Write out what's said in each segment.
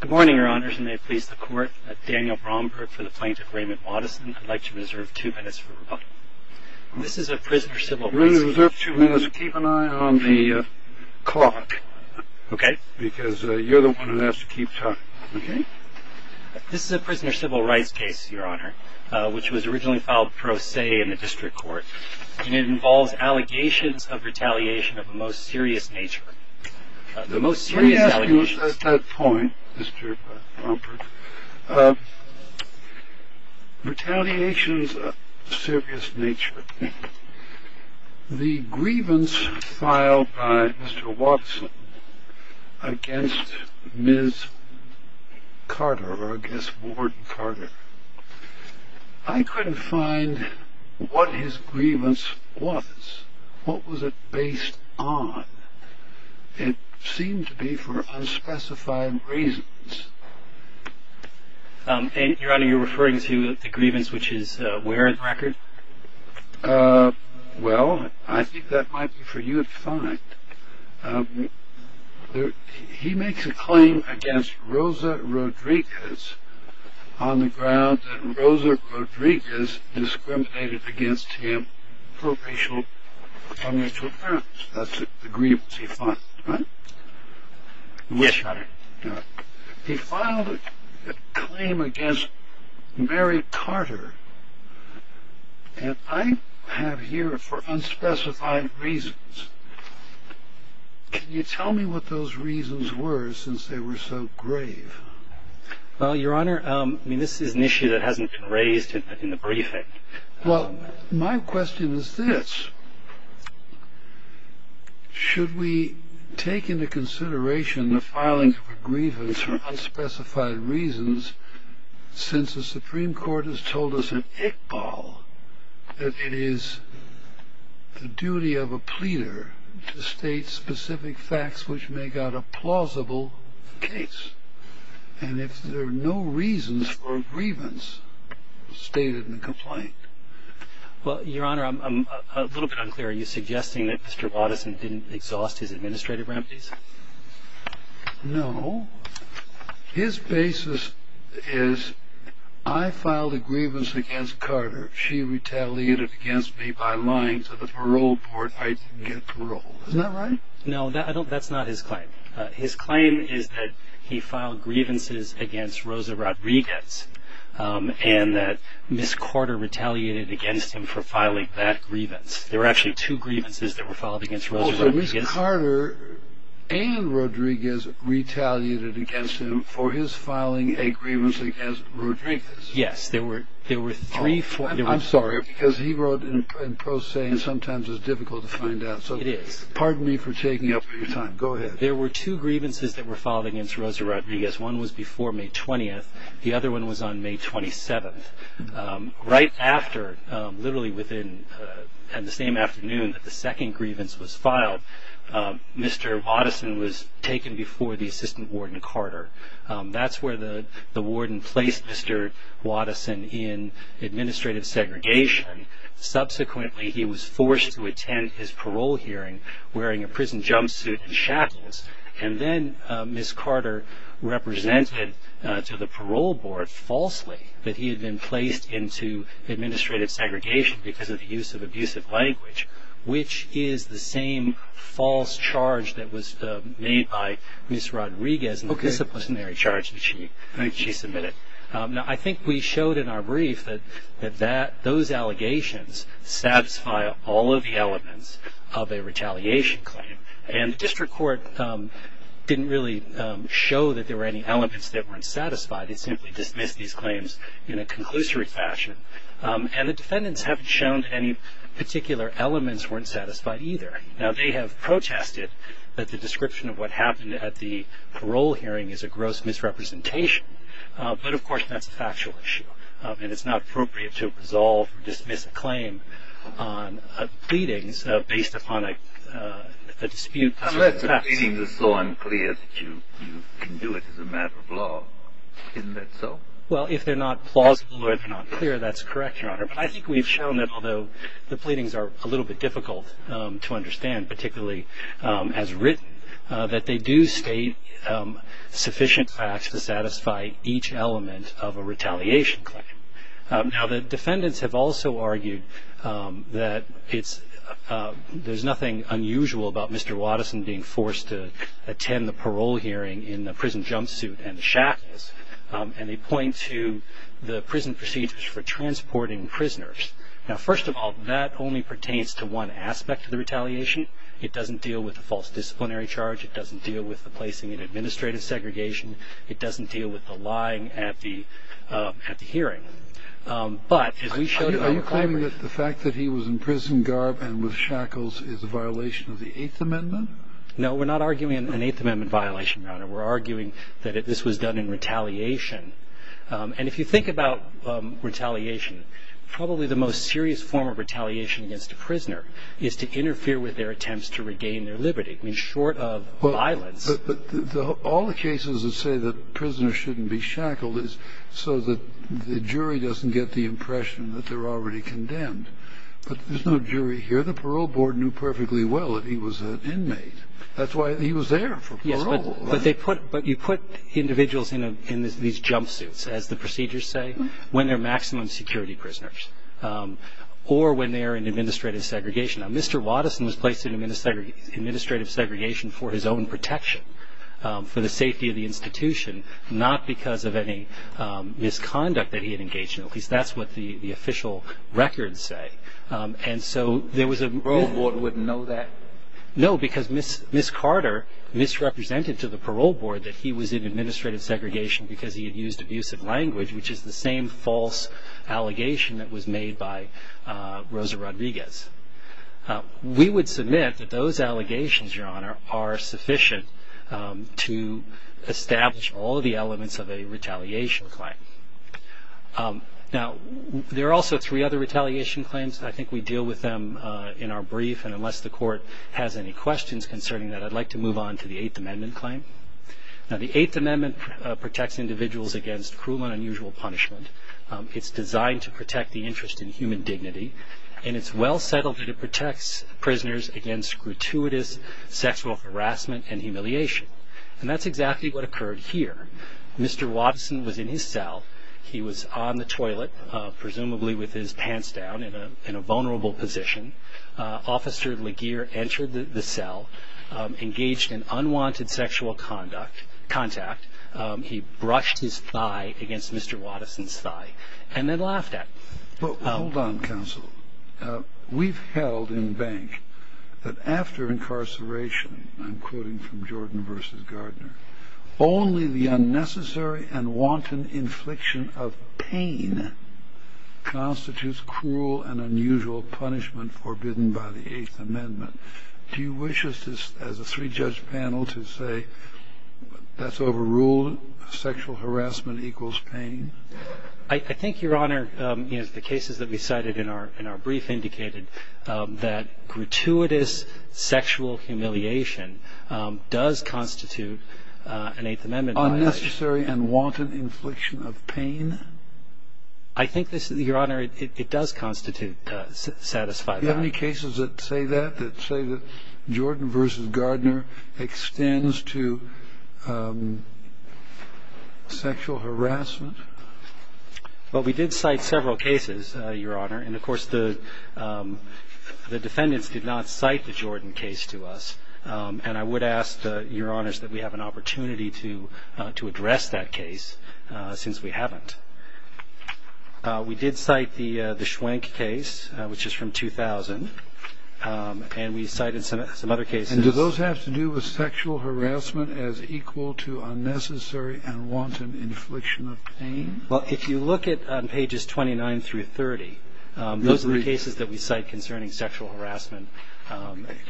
Good morning, your honors, and may it please the court, Daniel Bromberg for the plaintiff Raymond Watison. I'd like to reserve two minutes for rebuttal. This is a prisoner civil rights case. You're going to reserve two minutes. Keep an eye on the clock. Okay. Because you're the one who has to keep time. Okay. This is a prisoner civil rights case, your honor, which was originally filed pro se in the district court. And it involves allegations of retaliation of a most serious nature. The most serious allegations. Let me ask you at that point, Mr. Bromberg, retaliation is of a serious nature. The grievance filed by Mr. Watson against Ms. Carter or against Ward Carter, I couldn't find what his grievance was. What was it based on? It seemed to be for unspecified reasons. Your honor, you're referring to the grievance, which is where in the record? Well, I think that might be for you to find. He makes a claim against Rosa Rodriguez on the grounds that Rosa Rodriguez discriminated against him for racial and financial violence. That's the grievance he filed, right? Yes, your honor. He filed a claim against Mary Carter. And I have here for unspecified reasons. Can you tell me what those reasons were since they were so grave? Well, your honor, this is an issue that hasn't been raised in the briefing. Well, my question is this. Should we take into consideration the filings of a grievance for unspecified reasons since the Supreme Court has told us in Iqbal that it is the duty of a pleader to state specific facts which make out a plausible case? And if there are no reasons for a grievance, state it in the complaint. Well, your honor, I'm a little bit unclear. Are you suggesting that Mr. Watteson didn't exhaust his administrative remedies? No. His basis is I filed a grievance against Carter. She retaliated against me by lying to the parole board I didn't get parole. Isn't that right? No, that's not his claim. His claim is that he filed grievances against Rosa Rodriguez and that Ms. Carter retaliated against him for filing that grievance. There were actually two grievances that were filed against Rosa Rodriguez. So Ms. Carter and Rodriguez retaliated against him for his filing a grievance against Rodriguez. Yes, there were three. I'm sorry, because he wrote in pro se and sometimes it's difficult to find out. It is. Pardon me for taking up your time. Go ahead. There were two grievances that were filed against Rosa Rodriguez. One was before May 20th. The other one was on May 27th. Right after, literally within the same afternoon that the second grievance was filed, Mr. Watteson was taken before the assistant warden Carter. That's where the warden placed Mr. Watteson in administrative segregation. Subsequently, he was forced to attend his parole hearing wearing a prison jumpsuit and shackles. Then Ms. Carter represented to the parole board falsely that he had been placed into administrative segregation because of the use of abusive language, which is the same false charge that was made by Ms. Rodriguez in the disciplinary charge that she submitted. Now, I think we showed in our brief that those allegations satisfy all of the elements of a retaliation claim, and the district court didn't really show that there were any elements that weren't satisfied. It simply dismissed these claims in a conclusory fashion, and the defendants haven't shown that any particular elements weren't satisfied either. Now, they have protested that the description of what happened at the parole hearing is a gross misrepresentation, but, of course, that's a factual issue, and it's not appropriate to resolve or dismiss a claim on pleadings based upon a dispute. Unless the pleadings are so unclear that you can do it as a matter of law. Isn't that so? Well, if they're not plausible or they're not clear, that's correct, Your Honor, but I think we've shown that although the pleadings are a little bit difficult to understand, particularly as written, that they do state sufficient facts to satisfy each element of a retaliation claim. Now, the defendants have also argued that there's nothing unusual about Mr. Waddeson being forced to attend the parole hearing in a prison jumpsuit and shackles, and they point to the prison procedures for transporting prisoners. Now, first of all, that only pertains to one aspect of the retaliation. It doesn't deal with the false disciplinary charge. It doesn't deal with the placing in administrative segregation. It doesn't deal with the lying at the hearing. Are you claiming that the fact that he was in prison garb and with shackles is a violation of the Eighth Amendment? No, we're not arguing an Eighth Amendment violation, Your Honor. We're arguing that this was done in retaliation. And if you think about retaliation, probably the most serious form of retaliation against a prisoner is to interfere with their attempts to regain their liberty. I mean, short of violence. But all the cases that say that prisoners shouldn't be shackled is so that the jury doesn't get the impression that they're already condemned. But there's no jury here. The parole board knew perfectly well that he was an inmate. That's why he was there for parole. But you put individuals in these jumpsuits, as the procedures say, when they're maximum security prisoners or when they're in administrative segregation. Now, Mr. Watteson was placed in administrative segregation for his own protection, for the safety of the institution, not because of any misconduct that he had engaged in. At least that's what the official records say. And so there was a... The parole board wouldn't know that? No, because Ms. Carter misrepresented to the parole board that he was in administrative segregation because he had used abusive language, which is the same false allegation that was made by Rosa Rodriguez. We would submit that those allegations, Your Honor, are sufficient to establish all of the elements of a retaliation claim. Now, there are also three other retaliation claims. I think we deal with them in our brief. And unless the Court has any questions concerning that, I'd like to move on to the Eighth Amendment claim. Now, the Eighth Amendment protects individuals against cruel and unusual punishment. It's designed to protect the interest in human dignity. And it's well settled that it protects prisoners against gratuitous sexual harassment and humiliation. And that's exactly what occurred here. Mr. Watteson was in his cell. He was on the toilet, presumably with his pants down, in a vulnerable position. Officer Laguerre entered the cell, engaged in unwanted sexual contact. He brushed his thigh against Mr. Watteson's thigh and then laughed at him. Well, hold on, counsel. We've held in bank that after incarceration, I'm quoting from Jordan v. Gardner, only the unnecessary and wanton infliction of pain constitutes cruel and unusual punishment forbidden by the Eighth Amendment. Do you wish us, as a three-judge panel, to say that's overruled, sexual harassment equals pain? I think, Your Honor, the cases that we cited in our brief indicated that gratuitous sexual humiliation does constitute an Eighth Amendment violation. Unnecessary and wanton infliction of pain? I think this, Your Honor, it does constitute satisfied crime. Do you have any cases that say that, that say that Jordan v. Gardner extends to sexual harassment? Well, we did cite several cases, Your Honor, and, of course, the defendants did not cite the Jordan case to us. And I would ask, Your Honors, that we have an opportunity to address that case, since we haven't. We did cite the Schwenk case, which is from 2000, and we cited some other cases. And do those have to do with sexual harassment as equal to unnecessary and wanton infliction of pain? Well, if you look at pages 29 through 30, those are the cases that we cite concerning sexual harassment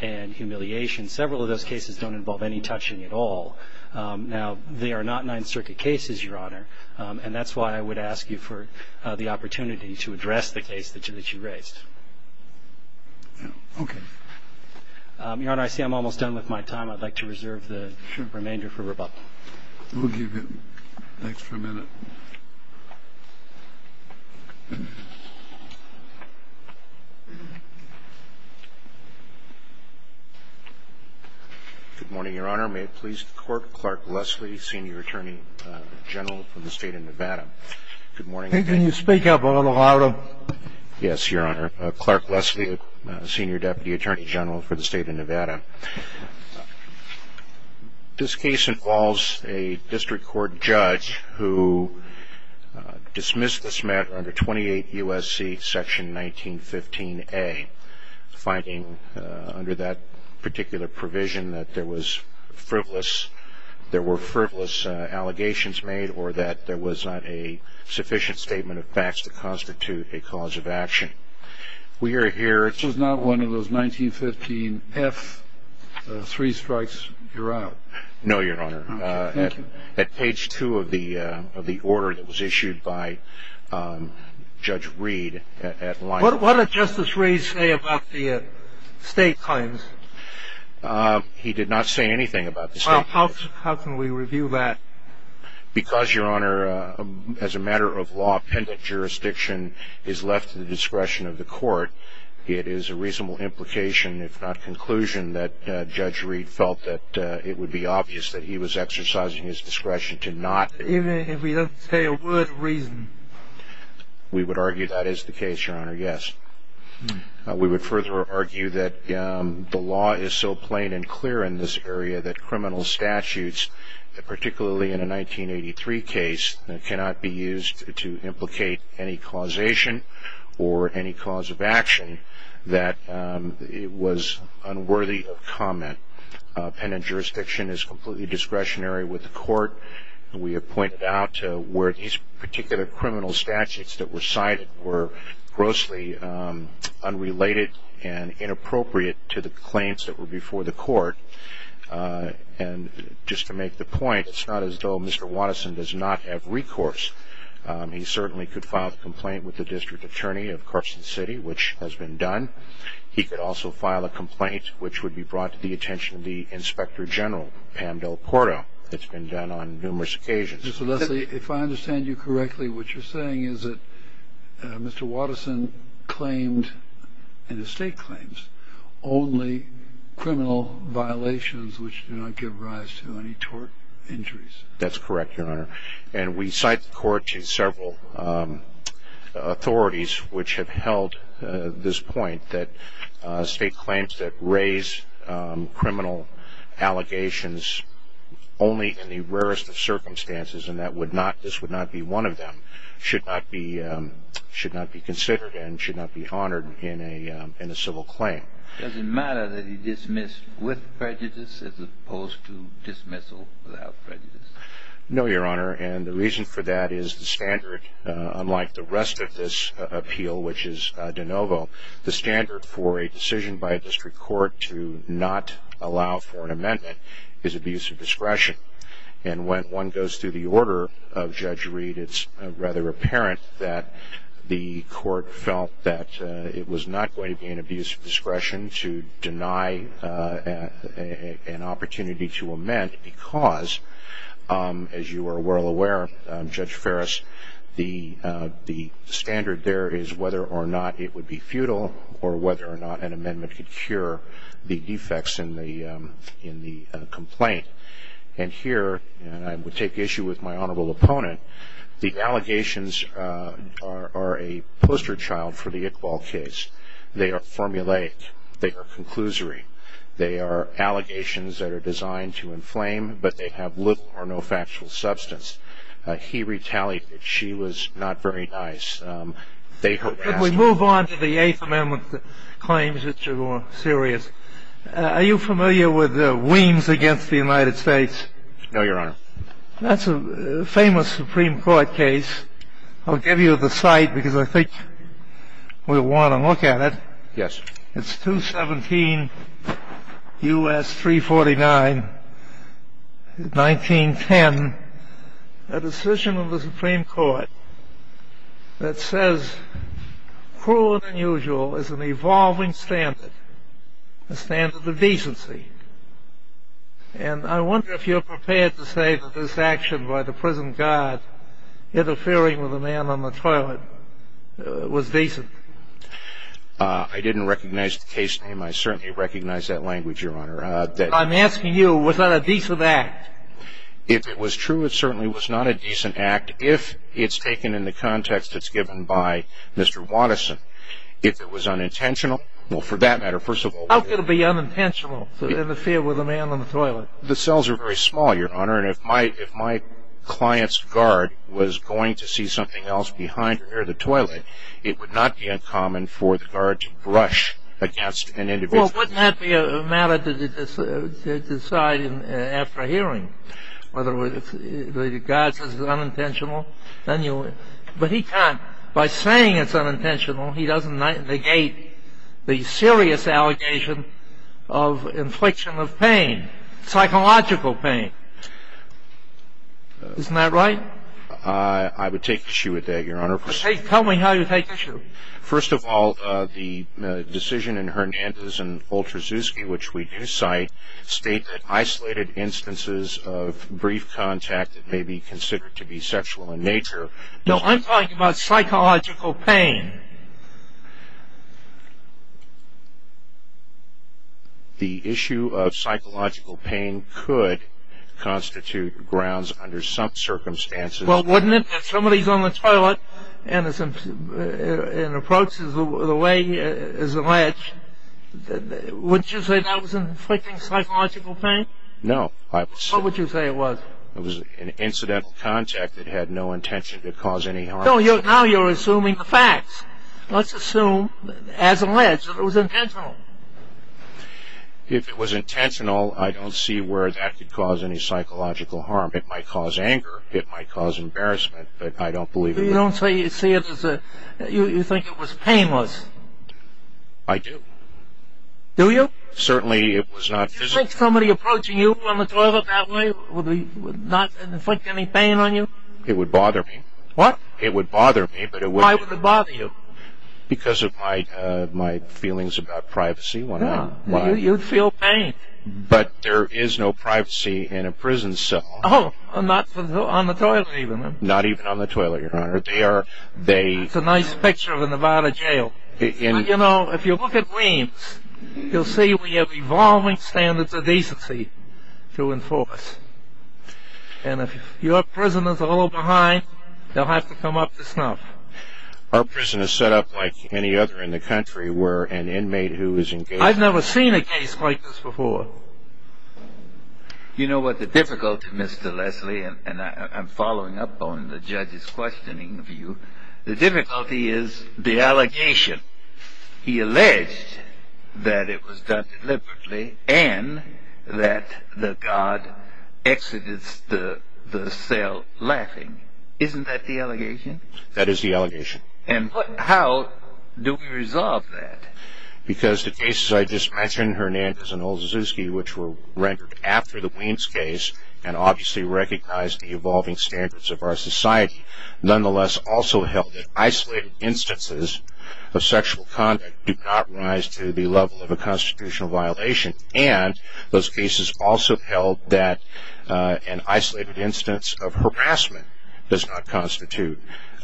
and humiliation. Several of those cases don't involve any touching at all. Now, they are not Ninth Circuit cases, Your Honor, and that's why I would ask you for the opportunity to address the case that you raised. Okay. Your Honor, I see I'm almost done with my time. I'd like to reserve the remainder for rebuttal. We'll give you an extra minute. Thank you. Good morning, Your Honor. May it please the Court, Clark Leslie, Senior Attorney General for the State of Nevada. Good morning. Can you speak up a little louder? Yes, Your Honor. Clark Leslie, Senior Deputy Attorney General for the State of Nevada. This case involves a district court judge who dismissed this matter under 28 U.S.C. section 1915A, finding under that particular provision that there were frivolous allegations made or that there was not a sufficient statement of facts to constitute a cause of action. This was not one of those 1915F three strikes. You're out. No, Your Honor. Thank you. At page two of the order that was issued by Judge Reed. What did Justice Reed say about the state claims? He did not say anything about the state claims. How can we review that? Because, Your Honor, as a matter of law, pendant jurisdiction is left to the discretion of the court, it is a reasonable implication, if not conclusion, that Judge Reed felt that it would be obvious that he was exercising his discretion to not. Even if he doesn't say a word of reason? We would argue that is the case, Your Honor, yes. We would further argue that the law is so plain and clear in this area that criminal statutes, particularly in a 1983 case, cannot be used to implicate any causation or any cause of action that it was unworthy of comment. Pendant jurisdiction is completely discretionary with the court. We have pointed out where these particular criminal statutes that were cited were grossly unrelated and inappropriate to the claims that were before the court. And just to make the point, it's not as though Mr. Watterson does not have recourse. He certainly could file a complaint with the district attorney of Carson City, which has been done. He could also file a complaint which would be brought to the attention of the Inspector General, Pam DelCordo. It's been done on numerous occasions. If I understand you correctly, what you're saying is that Mr. Watterson claimed in his state claims only criminal violations which do not give rise to any tort injuries. That's correct, Your Honor. And we cite the court to several authorities which have held this point, that state claims that raise criminal allegations only in the rarest of circumstances, and this would not be one of them, should not be considered and should not be honored in a civil claim. Does it matter that he dismissed with prejudice as opposed to dismissal without prejudice? No, Your Honor. And the reason for that is the standard, unlike the rest of this appeal, which is de novo, the standard for a decision by a district court to not allow for an amendment is abuse of discretion. And when one goes through the order of Judge Reed, it's rather apparent that the court felt that it was not going to be an abuse of discretion to deny an opportunity to amend because, as you are well aware, Judge Ferris, the standard there is whether or not it would be futile or whether or not an amendment could cure the defects in the complaint. And here, and I would take issue with my honorable opponent, the allegations are a poster child for the Iqbal case. They are formulaic. They are conclusory. They are allegations that are designed to inflame, but they have little or no factual substance. He retaliated. She was not very nice. We move on to the Eighth Amendment claims, which are more serious. Are you familiar with Weems against the United States? No, Your Honor. That's a famous Supreme Court case. I'll give you the site because I think we'll want to look at it. Yes. It's 217 U.S. 349, 1910, a decision of the Supreme Court that says cruel and unusual is an evolving standard, a standard of decency. And I wonder if you're prepared to say that this action by the prison guard interfering with a man on the toilet was decent. I didn't recognize the case name. I certainly recognize that language, Your Honor. I'm asking you, was that a decent act? If it was true, it certainly was not a decent act if it's taken in the context that's given by Mr. Watterson. If it was unintentional, well, for that matter, first of all, How could it be unintentional to interfere with a man on the toilet? The cells are very small, Your Honor, and if my client's guard was going to see something else behind or near the toilet, it would not be uncommon for the guard to brush against an individual. Well, wouldn't that be a matter to decide after hearing whether the guard says it's unintentional? But he can't. By saying it's unintentional, he doesn't negate the serious allegation of infliction of pain, psychological pain. Isn't that right? I would take issue with that, Your Honor. Tell me how you take issue. First of all, the decision in Hernandez and Oltrzewski, which we do cite, state that isolated instances of brief contact may be considered to be sexual in nature. No, I'm talking about psychological pain. The issue of psychological pain could constitute grounds under some circumstances. Well, wouldn't it? If somebody's on the toilet and an approach is alleged, wouldn't you say that was an inflicting psychological pain? No. What would you say it was? It was an incidental contact that had no intention to cause any harm. So now you're assuming the facts. Let's assume, as alleged, that it was intentional. If it was intentional, I don't see where that could cause any psychological harm. It might cause anger. It might cause embarrassment. But I don't believe it. You don't say you see it as a you think it was painless. I do. Do you? Certainly it was not physical. Do you think somebody approaching you on the toilet that way would not inflict any pain on you? It would bother me. What? It would bother me, but it wouldn't. Why would it bother you? Because of my feelings about privacy. You'd feel pain. But there is no privacy in a prison cell. Oh, not on the toilet even. Not even on the toilet, Your Honor. That's a nice picture of a Nevada jail. You know, if you look at Wayne's, you'll see we have evolving standards of decency to enforce. And if your prisoner's a little behind, they'll have to come up to snuff. Our prison is set up like any other in the country where an inmate who is in jail I've never seen a case like this before. You know what the difficulty, Mr. Leslie, and I'm following up on the judge's questioning of you, the difficulty is the allegation. He alleged that it was done deliberately and that the guard exited the cell laughing. Isn't that the allegation? That is the allegation. And how do we resolve that? Because the cases I just mentioned, Hernandez and Olszewski, which were rendered after the Waynes case and obviously recognized the evolving standards of our society, nonetheless also held that isolated instances of sexual conduct did not rise to the level of a constitutional violation. And those cases also held that an isolated instance of harassment does not constitute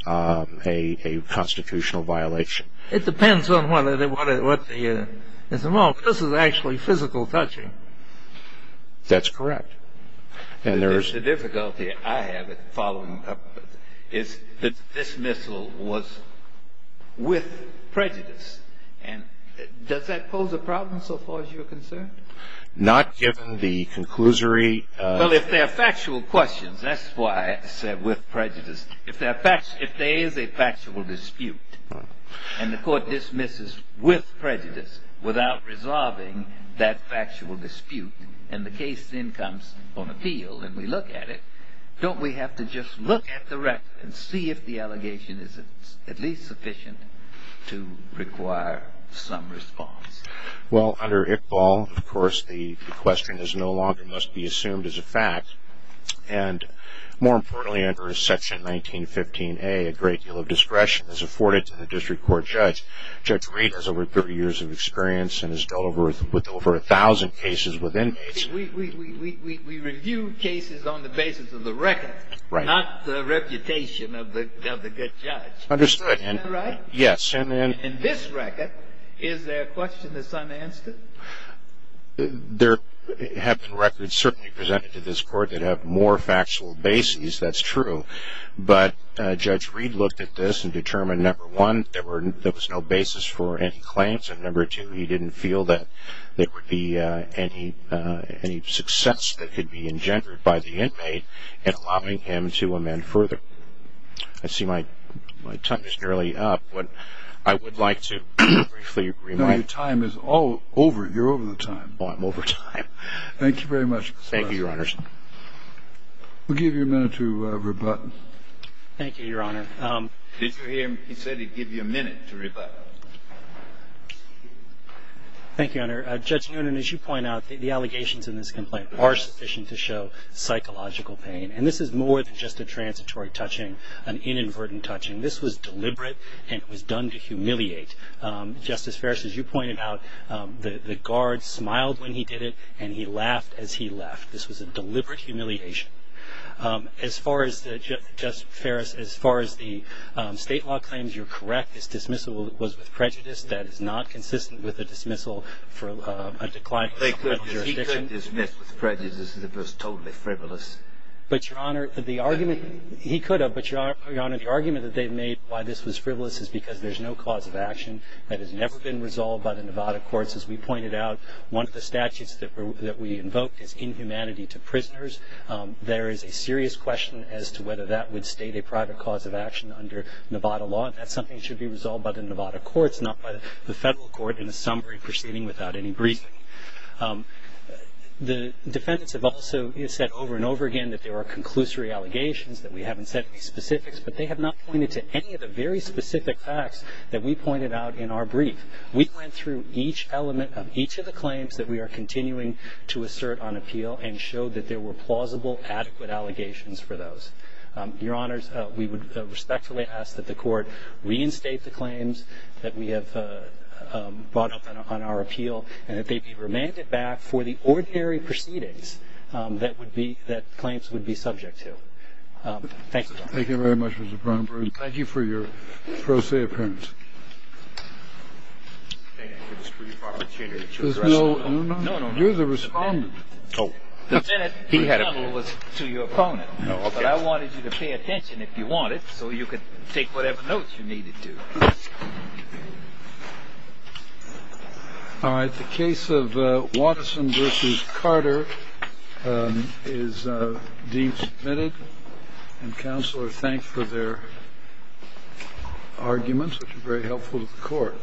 a constitutional violation. It depends on whether they want it or not. This is actually physical touching. That's correct. The difficulty I have in following up is that this missile was with prejudice. And does that pose a problem so far as you're concerned? Not given the conclusory. Well, if they're factual questions, that's why I said with prejudice. If there is a factual dispute and the court dismisses with prejudice without resolving that factual dispute and the case then comes on appeal and we look at it, don't we have to just look at the record and see if the allegation is at least sufficient to require some response? Well, under Iqbal, of course, the question no longer must be assumed as a fact. And more importantly, under Section 1915A, a great deal of discretion is afforded to the district court judge. Judge Reed has over 30 years of experience and has dealt with over 1,000 cases with inmates. We review cases on the basis of the record, not the reputation of the good judge. Understood. Isn't that right? Yes. In this record, is there a question that's unanswered? There have been records certainly presented to this court that have more factual bases. That's true. But Judge Reed looked at this and determined, number one, there was no basis for any claims, and number two, he didn't feel that there would be any success that could be engendered by the inmate in allowing him to amend further. I see my time is nearly up. I would like to briefly remind you. My time is all over. You're over the time. Oh, I'm over time. Thank you very much. Thank you, Your Honors. We'll give you a minute to rebut. Thank you, Your Honor. Did you hear him? He said he'd give you a minute to rebut. Thank you, Your Honor. Judge Noonan, as you point out, the allegations in this complaint are sufficient to show psychological pain. And this is more than just a transitory touching, an inadvertent touching. This was deliberate, and it was done to humiliate. Justice Ferris, as you pointed out, the guard smiled when he did it, and he laughed as he left. This was a deliberate humiliation. As far as the state law claims, you're correct. This dismissal was with prejudice. That is not consistent with a dismissal for a declined criminal jurisdiction. He could have dismissed with prejudice. It was totally frivolous. One of the arguments that they've made why this was frivolous is because there's no cause of action. That has never been resolved by the Nevada courts. As we pointed out, one of the statutes that we invoked is inhumanity to prisoners. There is a serious question as to whether that would state a private cause of action under Nevada law, and that's something that should be resolved by the Nevada courts, not by the federal court in a summary proceeding without any briefing. The defendants have also said over and over again that there are conclusory allegations, that we haven't said any specifics, but they have not pointed to any of the very specific facts that we pointed out in our brief. We went through each element of each of the claims that we are continuing to assert on appeal and showed that there were plausible, adequate allegations for those. Your Honors, we would respectfully ask that the court reinstate the claims that we have brought up on our appeal and that they be remanded back for the ordinary proceedings that claims would be subject to. Thank you. Thank you very much, Mr. Bromberg. Thank you for your pro se appearance. There's no? No, no, no. You're the respondent. Oh. The defendant was to your opponent, but I wanted you to pay attention if you wanted so you could take whatever notes you needed to. All right. The case of Watterson v. Carter is deemed submitted, and counsel are thanked for their arguments, which are very helpful to the court.